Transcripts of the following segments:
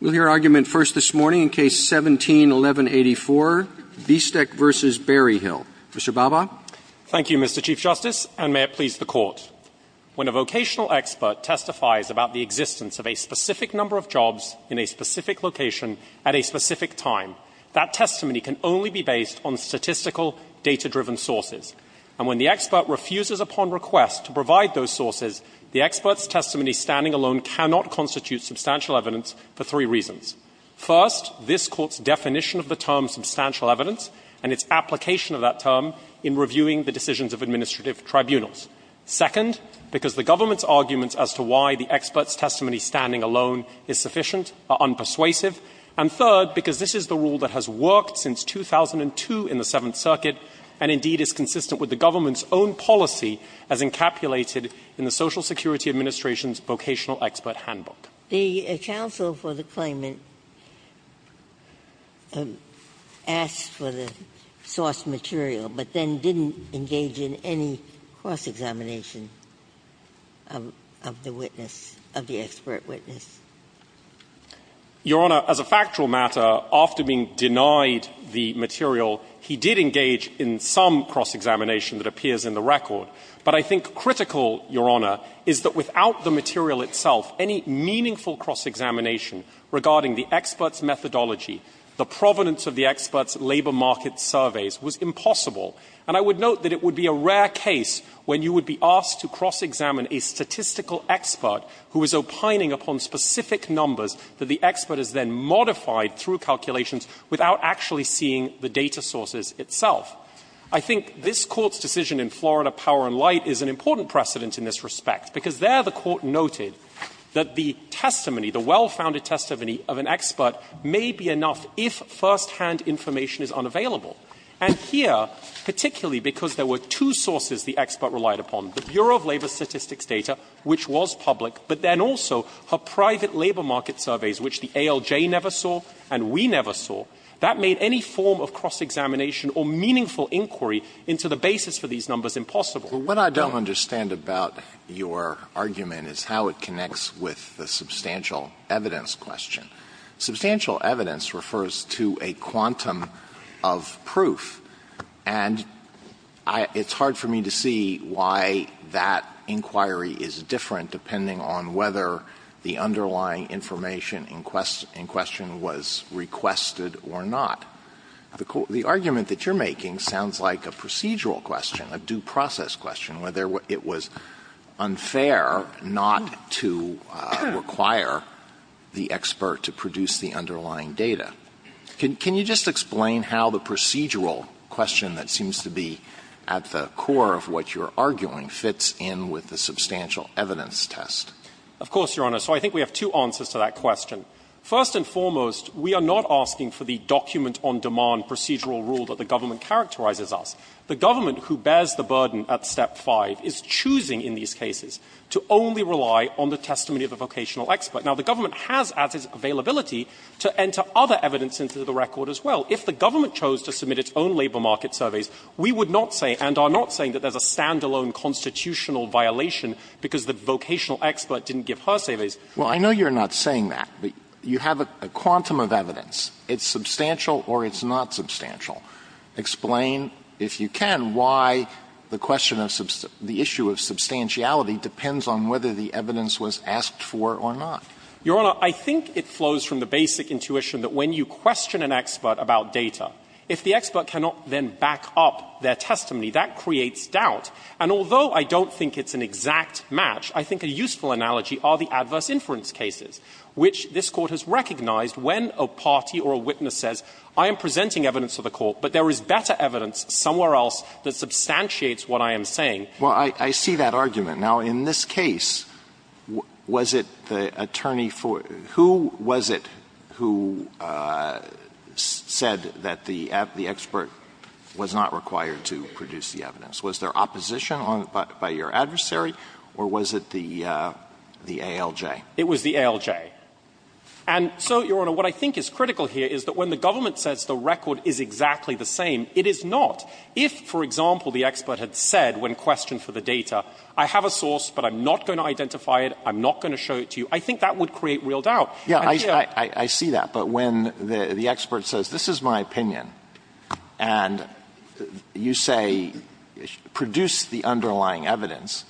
We'll hear argument first this morning in Case 17-1184, Biestek v. Berryhill. Mr. Bhabha. Thank you, Mr. Chief Justice, and may it please the Court. When a vocational expert testifies about the existence of a specific number of jobs in a specific location at a specific time, that testimony can only be based on statistical, data-driven sources. And when the expert refuses upon request to provide those sources, the expert's testimony standing alone cannot constitute substantial evidence for three reasons. First, this Court's definition of the term substantial evidence and its application of that term in reviewing the decisions of administrative tribunals. Second, because the government's arguments as to why the expert's testimony standing alone is sufficient are unpersuasive. And third, because this is the rule that has worked since 2002 in the Seventh Circuit and, indeed, is consistent with the government's own policy as encapulated in the Social Security Administration's Vocational Expert Handbook. Ginsburg. The counsel for the claimant asked for the source material, but then didn't engage in any cross-examination of the witness, of the expert witness. Your Honor, as a factual matter, after being denied the material, he did engage in some cross-examination that appears in the record. But I think critical, Your Honor, is that without the material itself, any meaningful cross-examination regarding the expert's methodology, the provenance of the expert's labor market surveys was impossible. And I would note that it would be a rare case when you would be asked to cross-examine a statistical expert who is opining upon specific numbers that the expert has then modified through calculations without actually seeing the data sources itself. I think this Court's decision in Florida Power and Light is an important precedent in this respect, because there the Court noted that the testimony, the well-founded testimony of an expert may be enough if firsthand information is unavailable. And here, particularly because there were two sources the expert relied upon, the Bureau of Labor Statistics data, which was public, but then also her private labor market surveys, which the ALJ never saw and we never saw, that made any form of cross-examination or meaningful inquiry into the basis for these numbers impossible. Alito, what I don't understand about your argument is how it connects with the substantial evidence question. Substantial evidence refers to a quantum of proof, and I — it's hard for me to see why that inquiry is different depending on whether the underlying information in question was requested or not. The argument that you're making sounds like a procedural question, a due process question, whether it was unfair not to require the expert to produce the underlying data. Can you just explain how the procedural question that seems to be at the core of what you're arguing fits in with the substantial evidence test? Of course, Your Honor. So I think we have two answers to that question. First and foremost, we are not asking for the document-on-demand procedural rule that the government characterizes us. The government, who bears the burden at step 5, is choosing in these cases to only rely on the testimony of a vocational expert. Now, the government has added availability to enter other evidence into the record as well. If the government chose to submit its own labor market surveys, we would not say, and I'm not saying that there's a stand-alone constitutional violation because the vocational expert didn't give her surveys. Well, I know you're not saying that, but you have a quantum of evidence. It's substantial or it's not substantial. Explain, if you can, why the question of the issue of substantiality depends on whether the evidence was asked for or not. Your Honor, I think it flows from the basic intuition that when you question an expert about data, if the expert cannot then back up their testimony, that creates doubt. And although I don't think it's an exact match, I think a useful analogy are the adverse inference cases, which this Court has recognized when a party or a witness says, I am presenting evidence to the Court, but there is better evidence somewhere else that substantiates what I am saying. Alito, I see that argument. Now, in this case, was it the attorney for — who was it who said that the — the expert was not required to produce the evidence? Was there opposition on — by your adversary, or was it the ALJ? It was the ALJ. And so, Your Honor, what I think is critical here is that when the government says the record is exactly the same, it is not. If, for example, the expert had said when questioned for the data, I have a source, but I'm not going to identify it, I'm not going to show it to you, I think that would create real doubt. And here — Alito, I see that. But when the expert says, this is my opinion, and you say, produce the underlying evidence,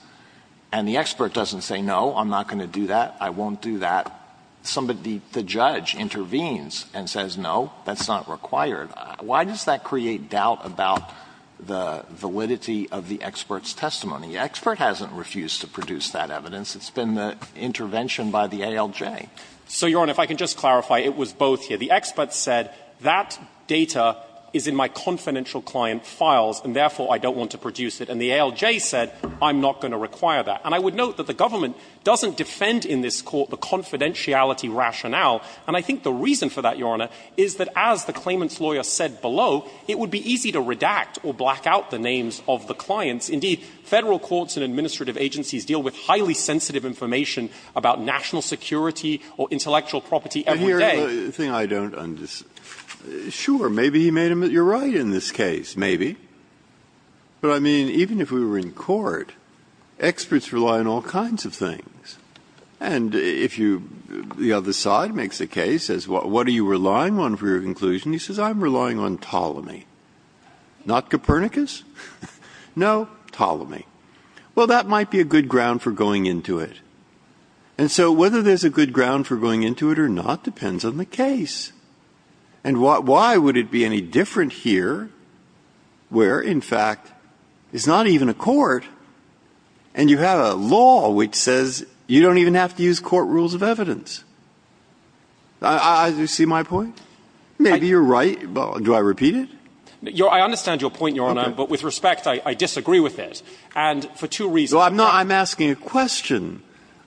and the expert doesn't say, no, I'm not going to do that, I won't do that, somebody — the judge intervenes and says, no, that's not required, why does that create doubt about the validity of the expert's testimony? The expert hasn't refused to produce that evidence. It's been the intervention by the ALJ. So, Your Honor, if I can just clarify, it was both here. The expert said, that data is in my confidential client files, and therefore, I don't want to produce it. And the ALJ said, I'm not going to require that. And I would note that the government doesn't defend in this Court the confidentiality rationale. And I think the reason for that, Your Honor, is that as the claimant's lawyer said below, it would be easy to redact or black out the names of the clients. Indeed, Federal courts and administrative agencies deal with highly sensitive information about national security or intellectual property every day. But here's the thing I don't — sure, maybe he made a — you're right in this case, maybe. But, I mean, even if we were in court, experts rely on all kinds of things. And if you — the other side makes a case, says, what are you relying on for your testimony? Ptolemy. Not Copernicus? No, Ptolemy. Well, that might be a good ground for going into it. And so, whether there's a good ground for going into it or not depends on the case. And why would it be any different here, where, in fact, it's not even a court, and you have a law which says you don't even have to use court rules of evidence? Do you see my point? Maybe you're right. Do I repeat it? I understand your point, Your Honor. But with respect, I disagree with it. And for two reasons. I'm not — I'm asking a question.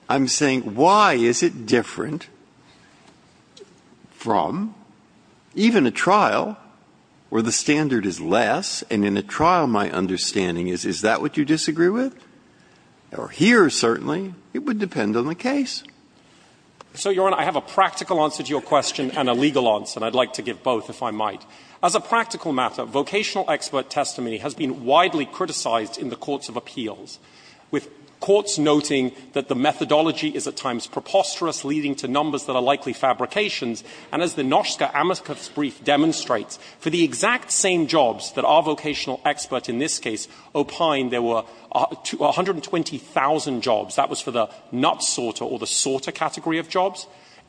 I'm saying, why is it different from even a trial where the standard is less, and in a trial, my understanding is, is that what you disagree with? Or here, certainly, it would depend on the case. So, Your Honor, I have a practical answer to your question and a legal answer. And I'd like to give both, if I might. As a practical matter, vocational expert testimony has been widely criticized in the courts of appeals, with courts noting that the methodology is at times preposterous, leading to numbers that are likely fabrications. And as the Noshka Amoskov brief demonstrates, for the exact same jobs that our vocational expert in this case opined, there were 120,000 jobs.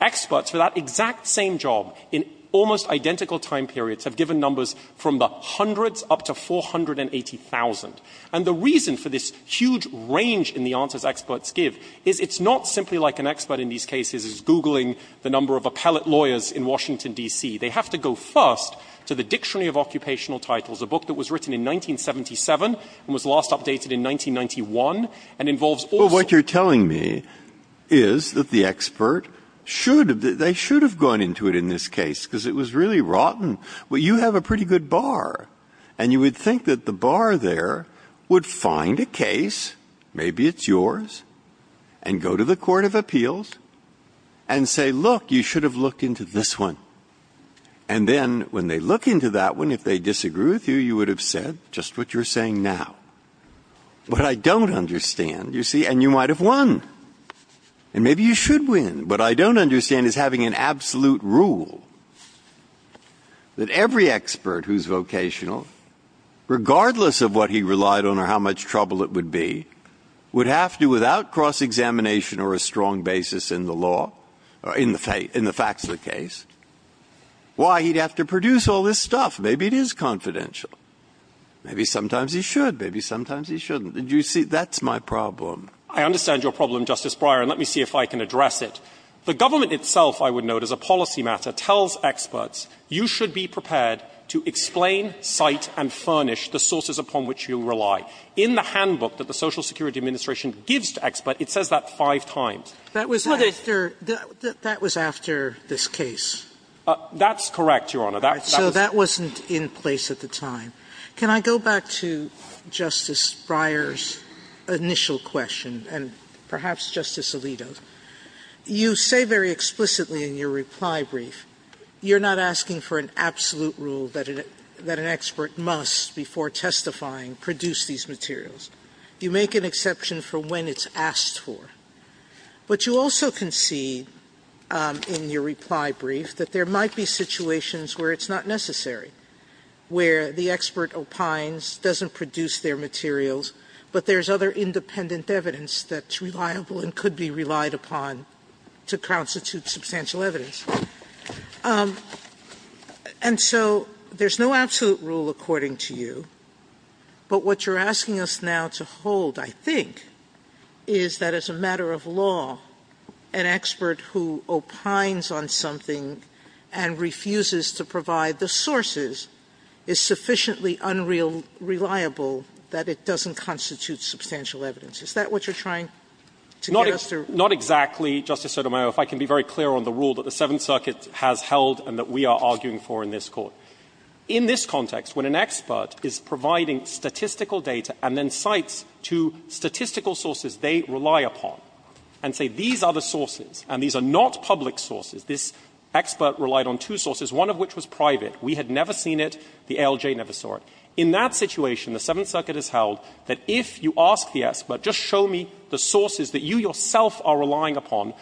Experts for that exact same job in almost identical time periods have given numbers from the hundreds up to 480,000. And the reason for this huge range in the answers experts give is it's not simply like an expert in these cases is Googling the number of appellate lawyers in Washington, D.C. They have to go first to the Dictionary of Occupational Titles, a book that was written in 1977 and was last updated in 1991, and involves also — should — they should have gone into it in this case, because it was really rotten. Well, you have a pretty good bar, and you would think that the bar there would find a case, maybe it's yours, and go to the court of appeals and say, look, you should have looked into this one. And then when they look into that one, if they disagree with you, you would have said just what you're saying now. But I don't understand, you see, and you might have won. And maybe you should win. What I don't understand is having an absolute rule that every expert who's vocational, regardless of what he relied on or how much trouble it would be, would have to, without cross-examination or a strong basis in the law — in the facts of the case — why he'd have to produce all this stuff. Maybe it is confidential. Maybe sometimes he should. Maybe sometimes he shouldn't. Did you see? That's my problem. I understand your problem, Justice Breyer, and let me see if I can address it. The government itself, I would note, as a policy matter, tells experts, you should be prepared to explain, cite, and furnish the sources upon which you rely. In the handbook that the Social Security Administration gives to experts, it says that five times. Sotomayor, that was after this case. That's correct, Your Honor. So that wasn't in place at the time. Can I go back to Justice Breyer's initial question, and perhaps Justice Alito's? You say very explicitly in your reply brief, you're not asking for an absolute rule that an expert must, before testifying, produce these materials. You make an exception for when it's asked for. But you also concede in your reply brief that there might be situations where it's not necessary, where the expert opines, doesn't produce their materials, but there's other independent evidence that's reliable and could be relied upon to constitute substantial evidence. And so there's no absolute rule according to you, but what you're asking us now to hold, I think, is that as a matter of law, an expert who opines on something and refuses to provide the sources is sufficiently unreliable that it doesn't constitute substantial evidence. Is that what you're trying to get us to? Not exactly, Justice Sotomayor, if I can be very clear on the rule that the Seventh Circuit has held and that we are arguing for in this Court. In this context, when an expert is providing statistical data and then cites to statistical sources they rely upon and say these are the sources and these are not public sources, this expert relied on two sources, one of which was private, we had never seen it, the ALJ never saw it, in that situation the Seventh Circuit has held that if you ask the expert, just show me the sources that you yourself are relying upon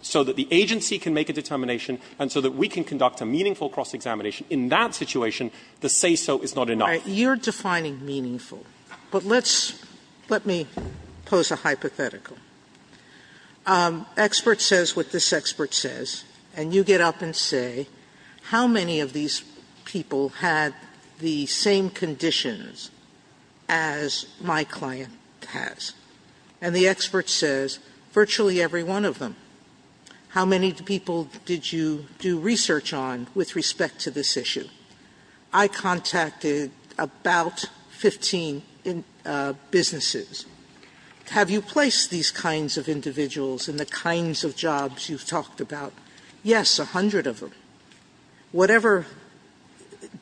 so that the agency can make a determination and so that we can conduct a meaningful cross-examination, in that situation the say-so is not enough. Sotomayor, you're defining meaningful, but let's, let me pose a hypothetical. Expert says what this expert says, and you get up and say, how many of these people had the same conditions as my client has, and the expert says virtually every one of them. How many people did you do research on with respect to this issue? I contacted about 15 businesses. Have you placed these kinds of individuals in the kinds of jobs you've talked about? Yes, a hundred of them. Whatever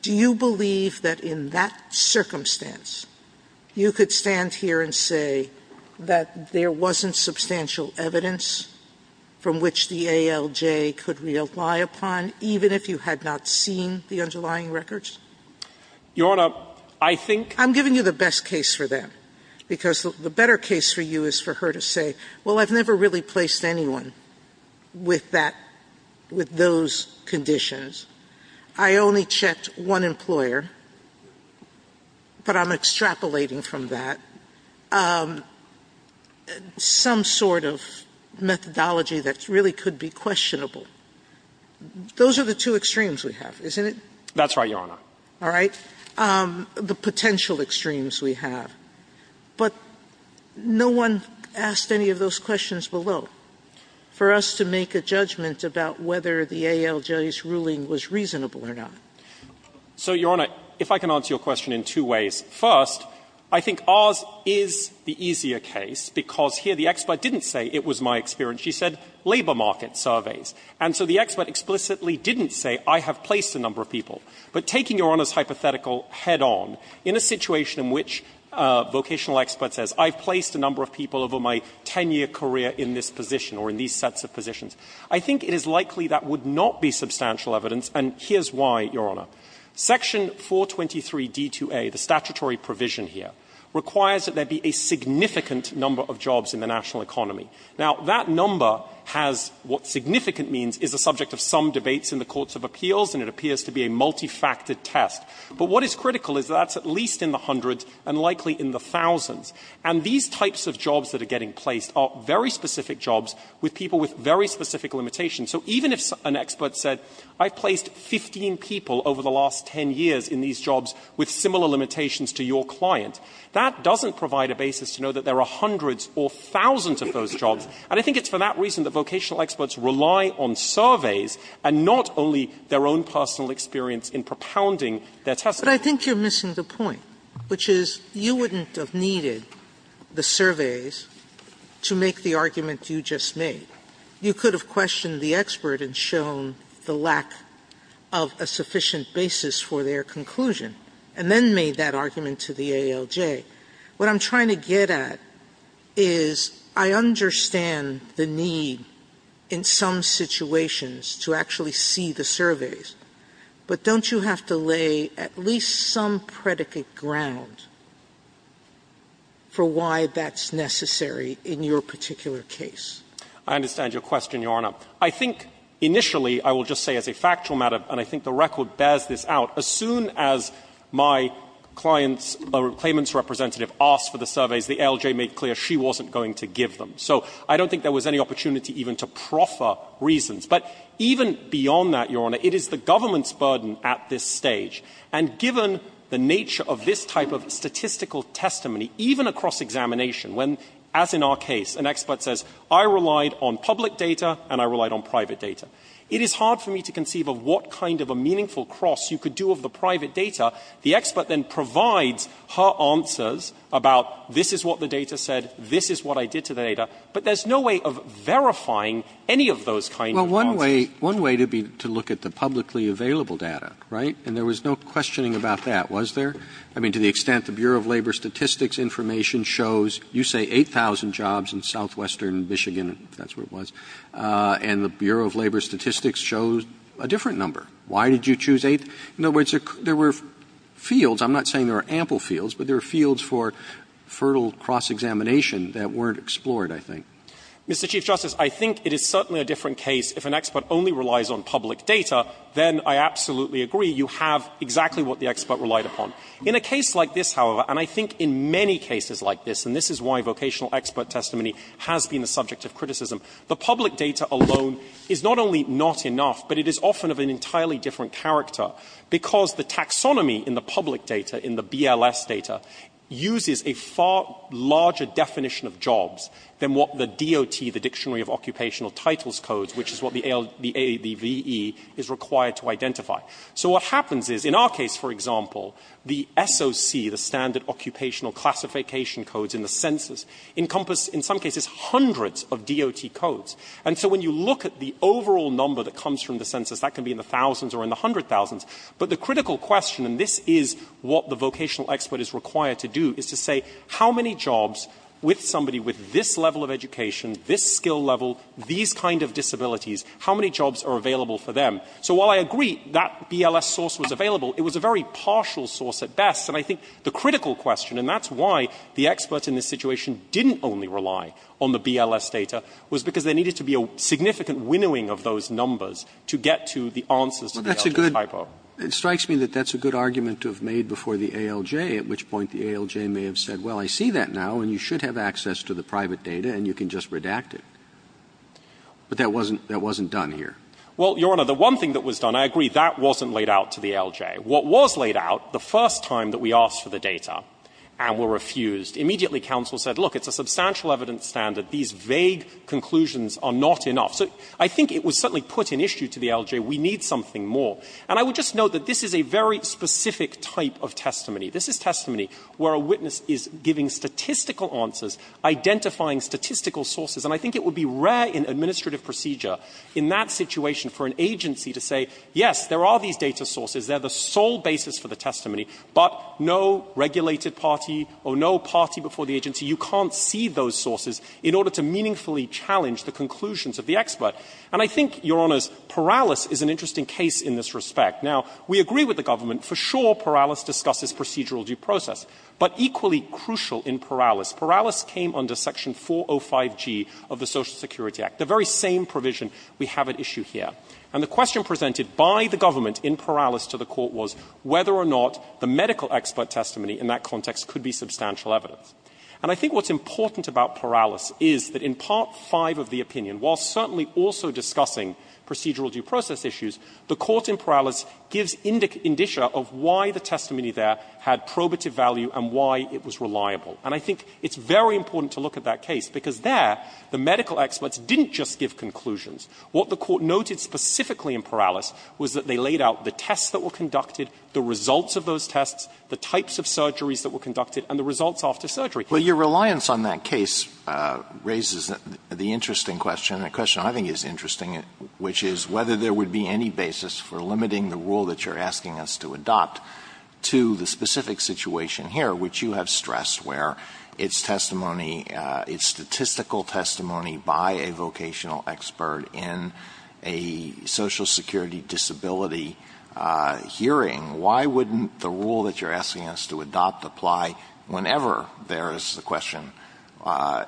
do you believe that in that circumstance you could stand here and say that there wasn't substantial evidence from which the ALJ could rely upon, even if you had not seen the underlying records? Your Honor, I think the best case for you is for her to say, well, I've never really placed anyone with that, with those conditions. I only checked one employer, but I'm extrapolating from that some sort of methodology that really could be questionable. Those are the two extremes we have, isn't it? That's right, Your Honor. All right. The potential extremes we have. But no one asked any of those questions below for us to make a judgment about whether the ALJ's ruling was reasonable or not. So, Your Honor, if I can answer your question in two ways. First, I think ours is the easier case, because here the expert didn't say it was my experience. She said labor market surveys. And so the expert explicitly didn't say, I have placed a number of people. But taking Your Honor's hypothetical head-on, in a situation in which a vocational expert says, I've placed a number of people over my 10-year career in this position or in these sets of positions, I think it is likely that would not be substantial evidence, and here's why, Your Honor. Section 423d2a, the statutory provision here, requires that there be a significant number of jobs in the national economy. Now, that number has what significant means is the subject of some debates in the courts of appeals, and it appears to be a multifactored test. But what is critical is that that's at least in the hundreds and likely in the thousands. And these types of jobs that are getting placed are very specific jobs with people with very specific limitations. So even if an expert said, I've placed 15 people over the last 10 years in these jobs with similar limitations to your client, that doesn't provide a basis to know that there are hundreds or thousands of those jobs, and I think it's for that reason that vocational experts rely on surveys and not only their own personal experience in propounding their testimony. Sotomayor, but I think you're missing the point, which is you wouldn't have needed the surveys to make the argument you just made. You could have questioned the expert and shown the lack of a sufficient basis for their conclusion, and then made that argument to the ALJ. What I'm trying to get at is I understand the need in some situations to actually see the surveys, but don't you have to lay at least some predicate ground for why that's necessary in your particular case? I understand your question, Your Honor. I think initially, I will just say as a factual matter, and I think the record bears this out, as soon as my client's or claimant's representative asked for the surveys, the ALJ made clear she wasn't going to give them. So I don't think there was any opportunity even to proffer reasons. But even beyond that, Your Honor, it is the government's burden at this stage. And given the nature of this type of statistical testimony, even across examination when, as in our case, an expert says, I relied on public data and I relied on private data, it is hard for me to conceive of what kind of a meaningful cross you could do of the private data, the expert then provides her answers about this is what the data said, this is what I did to the data, but there's no way of verifying any of those kinds of answers. Roberts. One way to be to look at the publicly available data, right, and there was no questioning about that, was there? I mean, to the extent the Bureau of Labor Statistics information shows, you say 8,000 jobs in southwestern Michigan, if that's where it was, and the Bureau of Labor Statistics shows a different number. Why did you choose 8? In other words, there were fields, I'm not saying there were ample fields, but there were fields for fertile cross-examination that weren't explored, I think. Mr. Chief Justice, I think it is certainly a different case if an expert only relies on public data, then I absolutely agree you have exactly what the expert relied upon. In a case like this, however, and I think in many cases like this, and this is why vocational expert testimony has been the subject of criticism, the public data alone is not only not enough, but it is often of an entirely different character, because the taxonomy in the public data, in the BLS data, uses a far larger definition of jobs than what the DOT, the Dictionary of Occupational Titles codes, which is what the ALDVE is required to identify. So what happens is, in our case, for example, the SOC, the Standard Occupational Classification Codes in the census encompass, in some cases, hundreds of DOT codes. And so when you look at the overall number that comes from the census, that can be in the thousands or in the hundred thousands, but the critical question, and this is what the vocational expert is required to do, is to say how many jobs with somebody with this level of education, this skill level, these kind of disabilities, how many jobs are available for them? So while I agree that BLS source was available, it was a very partial source at best, and I think the critical question, and that's why the experts in this situation didn't only rely on the BLS data, was because there needed to be a significant winnowing of those numbers to get to the answers to the ALJ's hypo. Roberts. It strikes me that that's a good argument to have made before the ALJ, at which point the ALJ may have said, well, I see that now, and you should have access to the private data, and you can just redact it. But that wasn't done here. Well, Your Honor, the one thing that was done, I agree, that wasn't laid out to the ALJ. What was laid out, the first time that we asked for the data and were refused, immediately counsel said, look, it's a substantial evidence standard. These vague conclusions are not enough. So I think it was certainly put in issue to the ALJ. We need something more. And I would just note that this is a very specific type of testimony. This is testimony where a witness is giving statistical answers, identifying statistical sources, and I think it would be rare in administrative procedure in that situation for an agency to say, yes, there are these data sources. They're the sole basis for the testimony, but no regulated party or no party before the agency, you can't see those sources in order to meaningfully challenge the conclusions of the expert. And I think, Your Honors, Perales is an interesting case in this respect. Now, we agree with the government. For sure, Perales discusses procedural due process. But equally crucial in Perales, Perales came under section 405G of the Social Security Act, the very same provision we have at issue here. And the question presented by the government in Perales to the Court was whether or not the medical expert testimony in that context could be substantial evidence. And I think what's important about Perales is that in Part V of the opinion, while certainly also discussing procedural due process issues, the Court in Perales gives indicia of why the testimony there had probative value and why it was reliable. And I think it's very important to look at that case, because there, the medical experts didn't just give conclusions. What the Court noted specifically in Perales was that they laid out the tests that were conducted, the results of those tests, the types of surgeries that were conducted, and the results after surgery. Alitoso, your reliance on that case raises the interesting question, and a question I think is interesting, which is whether there would be any basis for limiting the rule that you're asking us to adopt to the specific situation here, which you have stressed where its testimony, its statistical testimony by a vocational expert in a Social Security disability hearing. Why wouldn't the rule that you're asking us to adopt apply whenever there is the question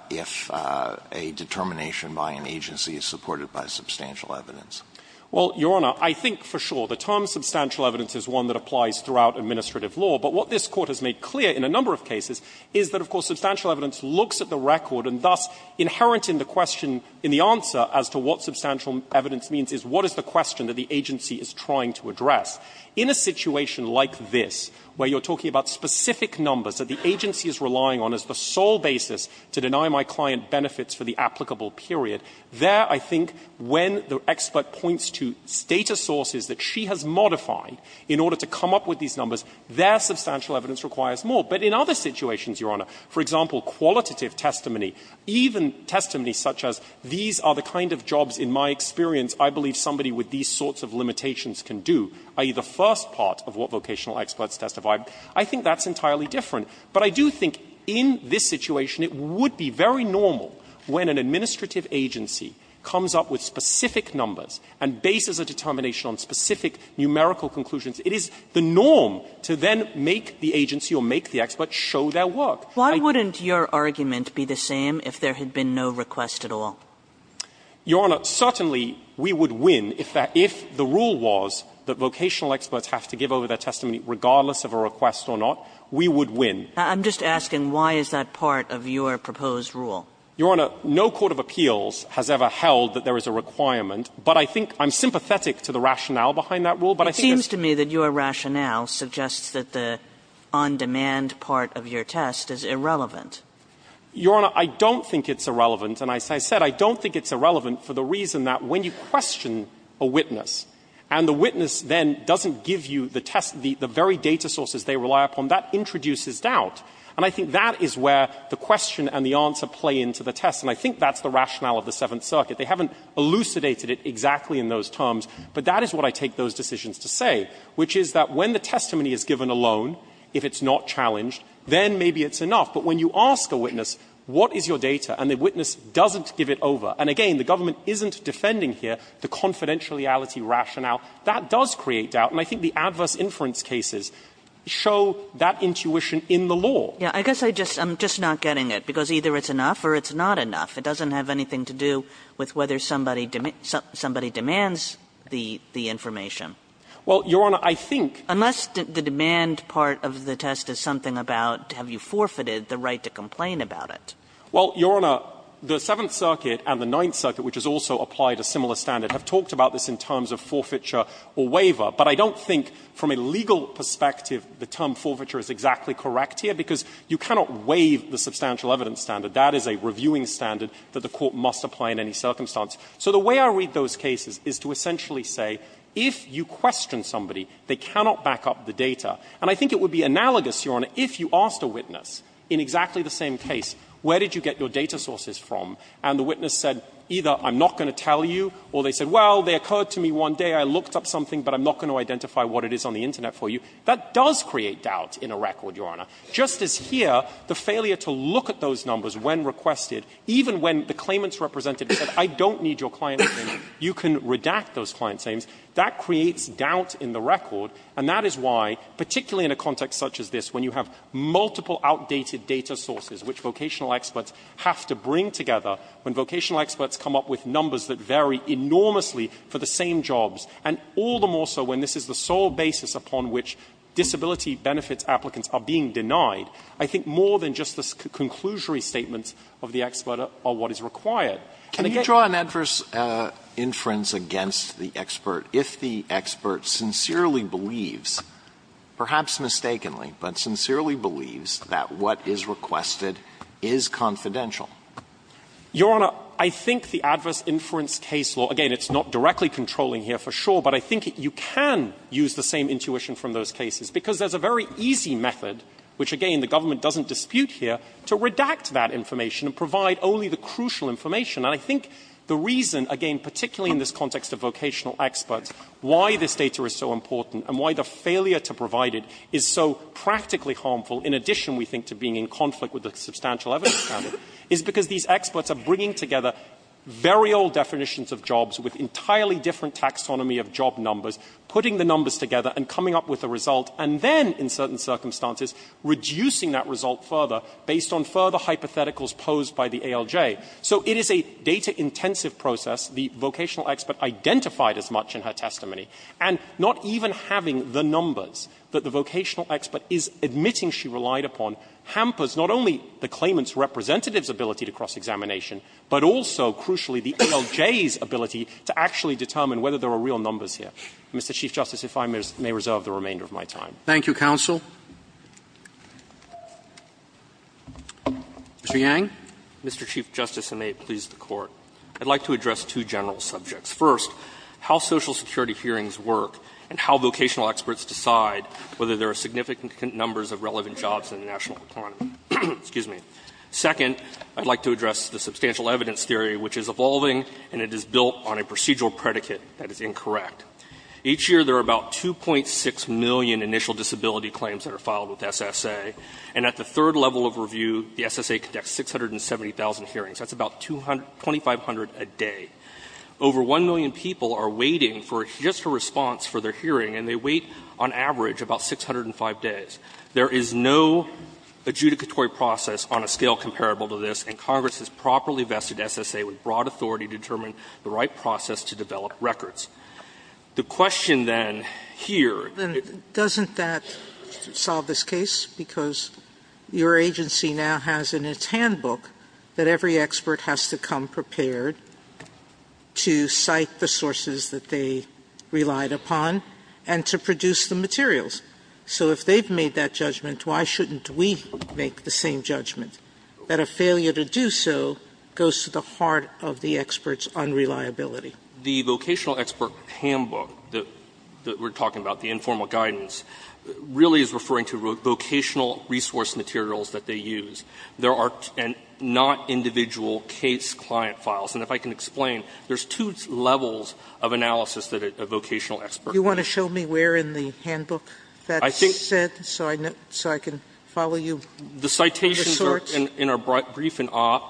if a determination by an agency is supported by substantial evidence? Well, Your Honor, I think for sure the term substantial evidence is one that applies throughout administrative law. But what this Court has made clear in a number of cases is that, of course, substantial evidence looks at the record and, thus, inherent in the question, in the answer as to what substantial evidence means is what is the question that the agency is trying to address. In a situation like this, where you're talking about specific numbers that the agency is relying on as the sole basis to deny my client benefits for the applicable period, there I think when the expert points to data sources that she has modified in order to come up with these numbers, there substantial evidence requires more. But in other situations, Your Honor, for example, qualitative testimony, even testimony such as these are the kind of jobs in my experience I believe somebody with these sorts of limitations can do, i.e., the first part of what vocational experts testify, I think that's entirely different. But I do think in this situation it would be very normal when an administrative agency comes up with specific numbers and bases a determination on specific numerical conclusions. It is the norm to then make the agency or make the expert show their work. Kagan. Why wouldn't your argument be the same if there had been no request at all? Your Honor, certainly we would win if that – if the rule was that vocational experts have to give over their testimony regardless of a request or not, we would win. I'm just asking why is that part of your proposed rule? Your Honor, no court of appeals has ever held that there is a requirement, but I think I'm sympathetic to the rationale behind that rule, but I think that's Kagan. It seems to me that your rationale suggests that the on-demand part of your test is irrelevant. Your Honor, I don't think it's irrelevant, and as I said, I don't think it's irrelevant for the reason that when you question a witness and the witness then doesn't give you the test, the very data sources they rely upon, that introduces doubt. And I think that is where the question and the answer play into the test, and I think that's the rationale of the Seventh Circuit. They haven't elucidated it exactly in those terms, but that is what I take those decisions to say, which is that when the testimony is given alone, if it's not challenged, then maybe it's enough. But when you ask a witness, what is your data, and the witness doesn't give it over, and again, the government isn't defending here the confidentiality rationale, that does create doubt. And I think the adverse inference cases show that intuition in the law. Kagan. I guess I'm just not getting it, because either it's enough or it's not enough. It doesn't have anything to do with whether somebody demands the information. Well, Your Honor, I think the demand part of the test is something about have you forfeited the right to complain about it. Well, Your Honor, the Seventh Circuit and the Ninth Circuit, which has also applied a similar standard, have talked about this in terms of forfeiture or waiver, but I don't think from a legal perspective the term forfeiture is exactly correct here, because you cannot waive the substantial evidence standard. That is a reviewing standard that the Court must apply in any circumstance. So the way I read those cases is to essentially say if you question somebody, they cannot back up the data. And I think it would be analogous, Your Honor, if you asked a witness in exactly the same case, where did you get your data sources from, and the witness said either I'm not going to tell you, or they said, well, they occurred to me one day, I looked up something, but I'm not going to identify what it is on the Internet for you, that does create doubt in a record, Your Honor, just as here the failure to look at those numbers when requested, even when the claimant's representative said I don't need your client's names, you can redact those client's names, that creates doubt in the record, and that is why, particularly in a context such as this, when you have multiple outdated data sources which vocational experts have to bring together, when vocational experts come up with numbers that vary enormously for the same jobs, and all the more so when this is the sole basis upon which disability benefits applicants are being provided, then the statements of the expert are what is required. Can you draw an adverse inference against the expert if the expert sincerely believes, perhaps mistakenly, but sincerely believes that what is requested is confidential? Your Honor, I think the adverse inference case law, again, it's not directly controlling here for sure, but I think you can use the same intuition from those cases, because there's a very easy method, which again the government doesn't dispute here, to redact that information and provide only the crucial information. And I think the reason, again, particularly in this context of vocational experts, why this data is so important and why the failure to provide it is so practically harmful, in addition, we think, to being in conflict with the substantial evidence standard, is because these experts are bringing together very old definitions of jobs with entirely different taxonomy of job numbers, putting the numbers together and coming up with a result, and then, in certain circumstances, reducing that result further based on further hypotheticals posed by the ALJ. So it is a data-intensive process. The vocational expert identified as much in her testimony. And not even having the numbers that the vocational expert is admitting she relied upon hampers not only the claimant's representative's ability to cross-examination, but also, crucially, the ALJ's ability to actually determine whether there are real numbers here. Mr. Chief Justice, if I may reserve the remainder of my time. Thank you, counsel. Mr. Yang. Mr. Chief Justice, and may it please the Court, I'd like to address two general subjects. First, how Social Security hearings work and how vocational experts decide whether there are significant numbers of relevant jobs in the national economy. Excuse me. Second, I'd like to address the substantial evidence theory, which is evolving and it is built on a procedural predicate that is incorrect. Each year there are about 2.6 million initial disability claims that are filed with SSA. And at the third level of review, the SSA conducts 670,000 hearings. That's about 2,500 a day. Over 1 million people are waiting for just a response for their hearing, and they wait, on average, about 605 days. There is no adjudicatory process on a scale comparable to this, and Congress has properly vested SSA with broad authority to determine the right process to develop records. The question, then, here is the question, then, doesn't that solve this case? Because your agency now has in its handbook that every expert has to come prepared to cite the sources that they relied upon and to produce the materials. So if they've made that judgment, why shouldn't we make the same judgment? That a failure to do so goes to the heart of the expert's unreliability. The vocational expert handbook that we're talking about, the informal guidance, really is referring to vocational resource materials that they use. There are not individual case client files. And if I can explain, there's two levels of analysis that a vocational expert can do. Sotomayor, you want to show me where in the handbook that's set so I can follow you? The citations are in our briefing op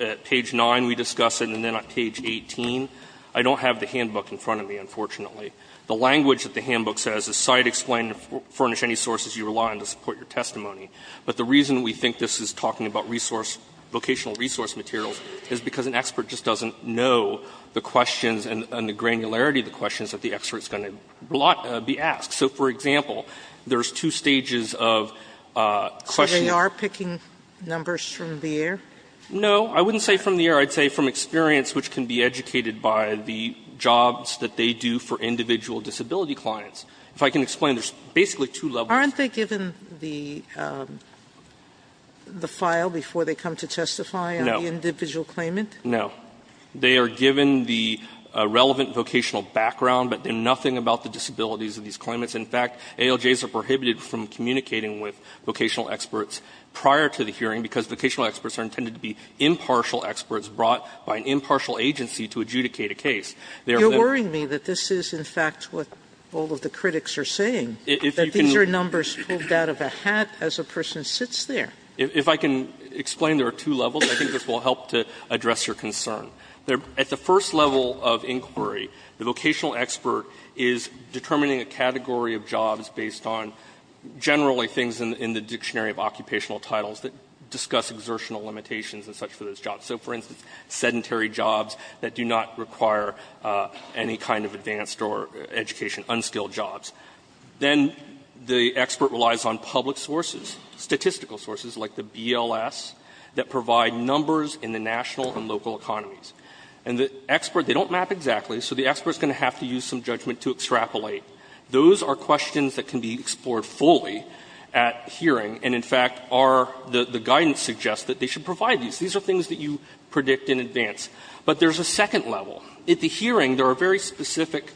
at page 9, we discuss it, and then on page 18. I don't have the handbook in front of me, unfortunately. The language that the handbook says is cite, explain, furnish any sources you rely on to support your testimony. But the reason we think this is talking about resource, vocational resource materials, is because an expert just doesn't know the questions and the granularity of the questions that the expert's going to be asked. So, for example, there's two stages of question. Sotomayor, are you picking numbers from the air? No. I wouldn't say from the air. I'd say from experience, which can be educated by the jobs that they do for individual disability clients. If I can explain, there's basically two levels. Aren't they given the file before they come to testify on the individual claimant? No. They are given the relevant vocational background, but they're nothing about the disabilities of these claimants. In fact, ALJs are prohibited from communicating with vocational experts prior to the brought by an impartial agency to adjudicate a case. They are then You're worrying me that this is, in fact, what all of the critics are saying, that these are numbers pulled out of a hat as a person sits there. If I can explain, there are two levels, and I think this will help to address your concern. At the first level of inquiry, the vocational expert is determining a category of jobs based on generally things in the dictionary of occupational titles that discuss exertional limitations and such for those jobs. So, for instance, sedentary jobs that do not require any kind of advanced or education, unskilled jobs. Then the expert relies on public sources, statistical sources, like the BLS, that provide numbers in the national and local economies. And the expert, they don't map exactly, so the expert is going to have to use some judgment to extrapolate. Those are questions that can be explored fully at hearing, and, in fact, are the guidance suggests that they should provide these. These are things that you predict in advance. But there's a second level. At the hearing, there are very specific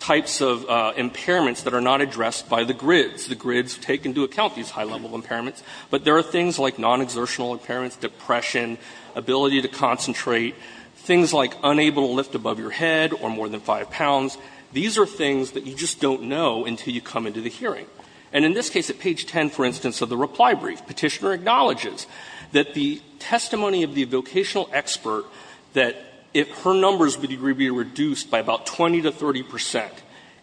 types of impairments that are not addressed by the grids. The grids take into account these high-level impairments. But there are things like non-exertional impairments, depression, ability to concentrate, things like unable to lift above your head or more than 5 pounds. These are things that you just don't know until you come into the hearing. And in this case, at page 10, for instance, of the reply brief, Petitioner acknowledges that the testimony of the vocational expert, that if her numbers were to be reduced by about 20 to 30 percent,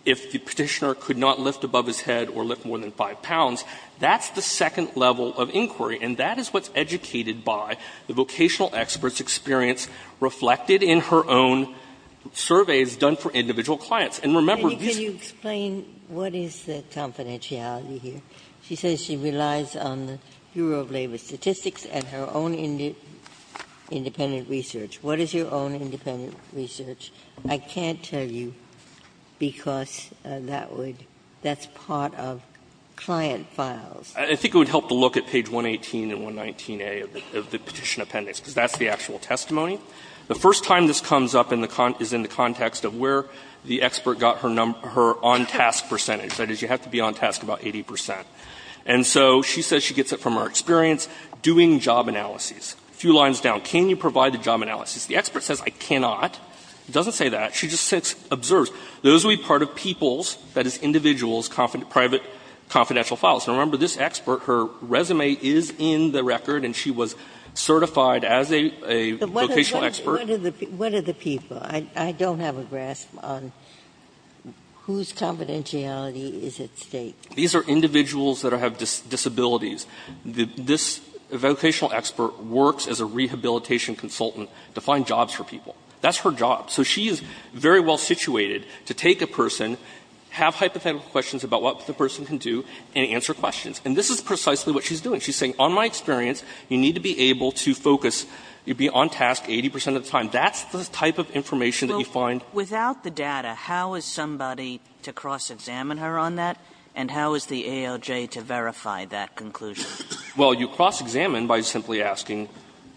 if the Petitioner could not lift above his head or lift more than 5 pounds, that's the second level of inquiry. And that is what's educated by the vocational expert's experience reflected in her own surveys done for individual clients. And remember, these are the things that are not addressed by the grids. Ginsburg. And can you explain what is the confidentiality here? She says she relies on the Bureau of Labor Statistics and her own independent research. What is your own independent research? I can't tell you, because that would be part of client files. I think it would help to look at page 118 and 119a of the Petition Appendix, because that's the actual testimony. The first time this comes up is in the context of where the expert got her on-task percentage, that is, you have to be on-task about 80 percent. And so she says she gets it from her experience doing job analyses. A few lines down, can you provide the job analyses? The expert says, I cannot. It doesn't say that. She just says, observe. Those would be part of people's, that is, individual's private confidential files. Now, remember, this expert, her resume is in the record, and she was certified as a vocational expert. Ginsburg-Gillian What are the people? I don't have a grasp on whose confidentiality is at stake. These are individuals that have disabilities. This vocational expert works as a rehabilitation consultant to find jobs for people. That's her job. So she is very well situated to take a person, have hypothetical questions about what the person can do, and answer questions. And this is precisely what she's doing. She's saying, on my experience, you need to be able to focus, you'd be on-task 80% of the time. That's the type of information that you find. Kagan Without the data, how is somebody to cross-examine her on that? And how is the ALJ to verify that conclusion? Well, you cross-examine by simply asking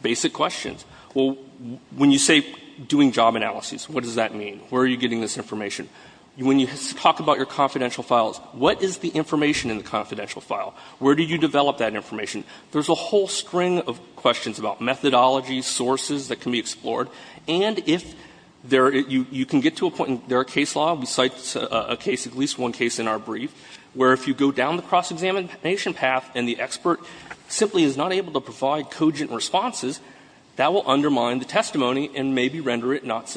basic questions. Well, when you say doing job analyses, what does that mean? Where are you getting this information? When you talk about your confidential files, what is the information in the confidential file? Where do you develop that information? There's a whole string of questions about methodologies, sources that can be explored. And if there are you can get to a point, there are case law, we cite a case, at least one case in our brief, where if you go down the cross-examination path and the expert simply is not able to provide cogent responses, that will undermine the testimony and maybe render it not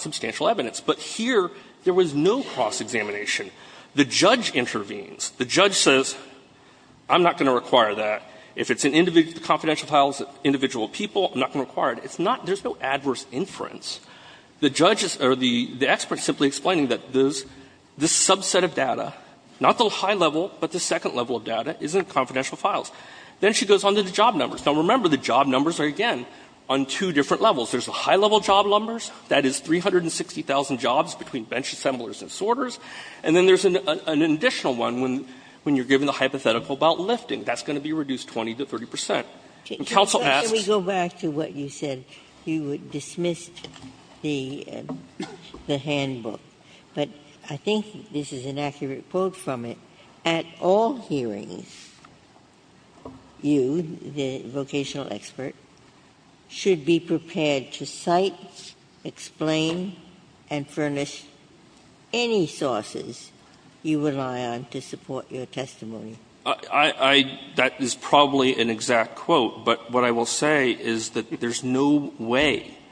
substantial evidence. But here, there was no cross-examination. The judge intervenes. The judge says, I'm not going to require that. If it's in individual confidential files, individual people, I'm not going to require it. It's not – there's no adverse inference. The judge is – or the expert is simply explaining that this subset of data, not the high level, but the second level of data, is in confidential files. Then she goes on to the job numbers. Now, remember, the job numbers are, again, on two different levels. There's the high-level job numbers. That is 360,000 jobs between bench assemblers and sorters. And then there's an additional one when you're given the hypothetical about lifting. That's going to be reduced 20 to 30 percent. And counsel asks – Ginsburg. Can we go back to what you said? You dismissed the handbook, but I think this is an accurate quote from it. At all hearings, you, the vocational expert, should be prepared to cite, explain, and furnish any sources you rely on to support your testimony. I – that is probably an exact quote, but what I will say is that there's no way –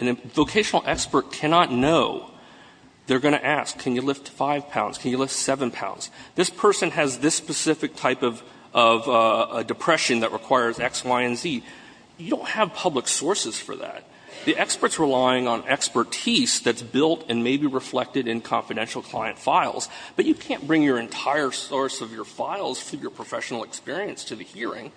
a vocational expert cannot know. They're going to ask, can you lift 5 pounds? Can you lift 7 pounds? This person has this specific type of depression that requires X, Y, and Z. You don't have public sources for that. The expert's relying on expertise that's built and may be reflected in confidential client files. But you can't bring your entire source of your files through your professional experience to the hearing.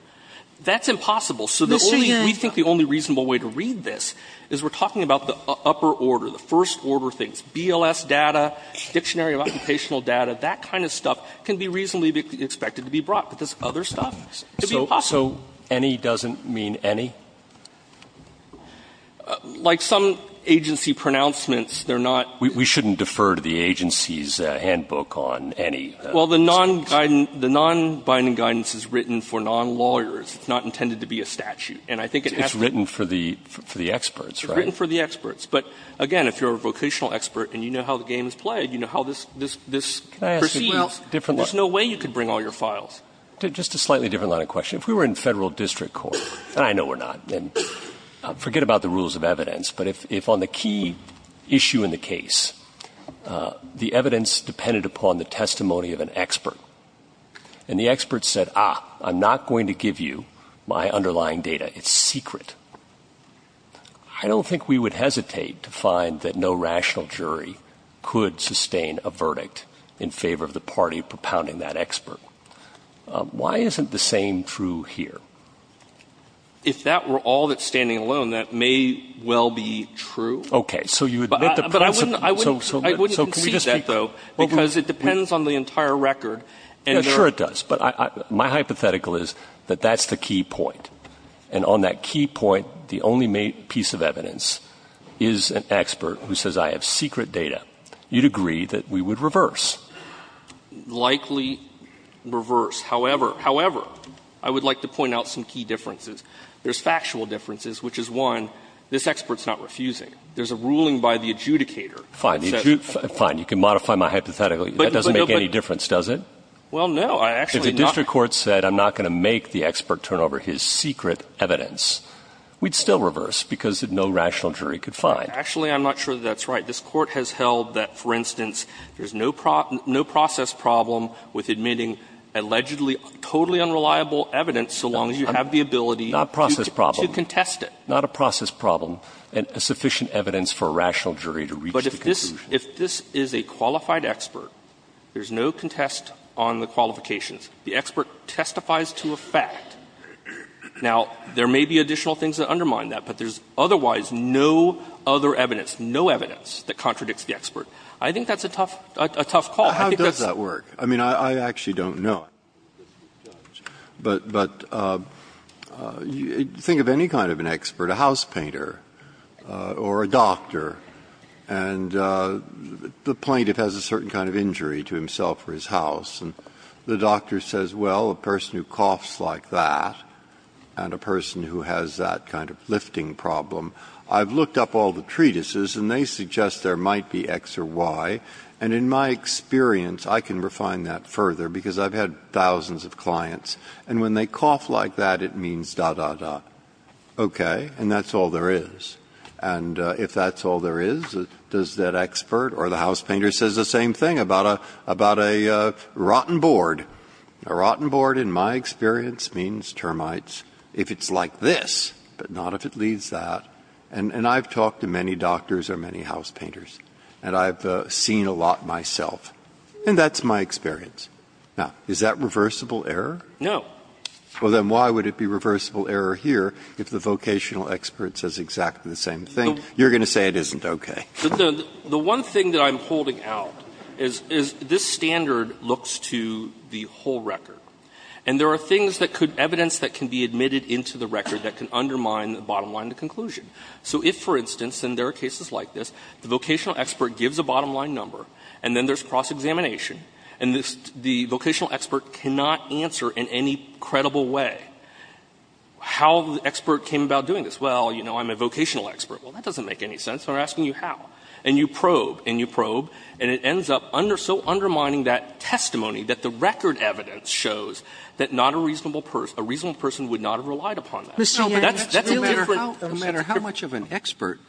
That's impossible. So the only – we think the only reasonable way to read this is we're talking about the upper order, the first-order things, BLS data, Dictionary of Occupational Data, that kind of stuff can be reasonably expected to be brought. But this other stuff, it would be impossible. So any doesn't mean any? Like some agency pronouncements, they're not – We shouldn't defer to the agency's handbook on any. Well, the non-binding guidance is written for non-lawyers. It's not intended to be a statute. And I think it has to be – It's written for the experts, right? It's written for the experts. But again, if you're a vocational expert and you know how the game is played, you can't just proceed. Well, there's no way you could bring all your files. Just a slightly different line of question. If we were in Federal district court, and I know we're not, and forget about the rules of evidence, but if on the key issue in the case, the evidence depended upon the testimony of an expert, and the expert said, ah, I'm not going to give you my underlying data, it's secret, I don't think we would hesitate to find that no rational in favor of the party propounding that expert. Why isn't the same true here? If that were all that's standing alone, that may well be true. Okay. So you admit the principle. But I wouldn't concede that, though, because it depends on the entire record. Sure it does. But my hypothetical is that that's the key point. And on that key point, the only piece of evidence is an expert who says, I have secret data. You'd agree that we would reverse. Likely reverse. However, however, I would like to point out some key differences. There's factual differences, which is, one, this expert's not refusing. There's a ruling by the adjudicator that says the expert's not refusing. Fine. You can modify my hypothetical. That doesn't make any difference, does it? Well, no. I actually not. If the district court said I'm not going to make the expert turn over his secret evidence, we'd still reverse because no rational jury could find. Actually, I'm not sure that's right. This Court has held that, for instance, there's no process problem with admitting allegedly totally unreliable evidence so long as you have the ability to contest it. Not a process problem. Not a process problem. And sufficient evidence for a rational jury to reach the conclusion. But if this is a qualified expert, there's no contest on the qualifications. The expert testifies to a fact. Now, there may be additional things that undermine that, but there's otherwise no other evidence. There's no evidence that contradicts the expert. I think that's a tough call. I think that's a tough call. Breyer. How does that work? I mean, I actually don't know. But think of any kind of an expert, a house painter or a doctor, and the plaintiff has a certain kind of injury to himself or his house, and the doctor says, well, a person who coughs like that and a person who has that kind of lifting problem, I've looked up all the treatises, and they suggest there might be X or Y, and in my experience, I can refine that further because I've had thousands of clients, and when they cough like that, it means da, da, da. Okay? And that's all there is. And if that's all there is, does that expert or the house painter says the same thing about a rotten board? A rotten board, in my experience, means termites if it's like this, but not if it is like that. And I've talked to many doctors or many house painters, and I've seen a lot myself, and that's my experience. Now, is that reversible error? No. Well, then why would it be reversible error here if the vocational expert says exactly the same thing? You're going to say it isn't, okay. The one thing that I'm holding out is this standard looks to the whole record. And there are things that could be evidence that can be admitted into the record that can undermine the bottom line of the conclusion. So if, for instance, and there are cases like this, the vocational expert gives a bottom line number, and then there's cross-examination, and the vocational expert cannot answer in any credible way, how the expert came about doing this? Well, you know, I'm a vocational expert. Well, that doesn't make any sense, and I'm asking you how. And you probe, and you probe, and it ends up under so undermining that testimony that the record evidence shows that not a reasonable person, a reasonable person would not have relied upon that. Sotomayor, that's a little different. Roberts, no matter how much of an expert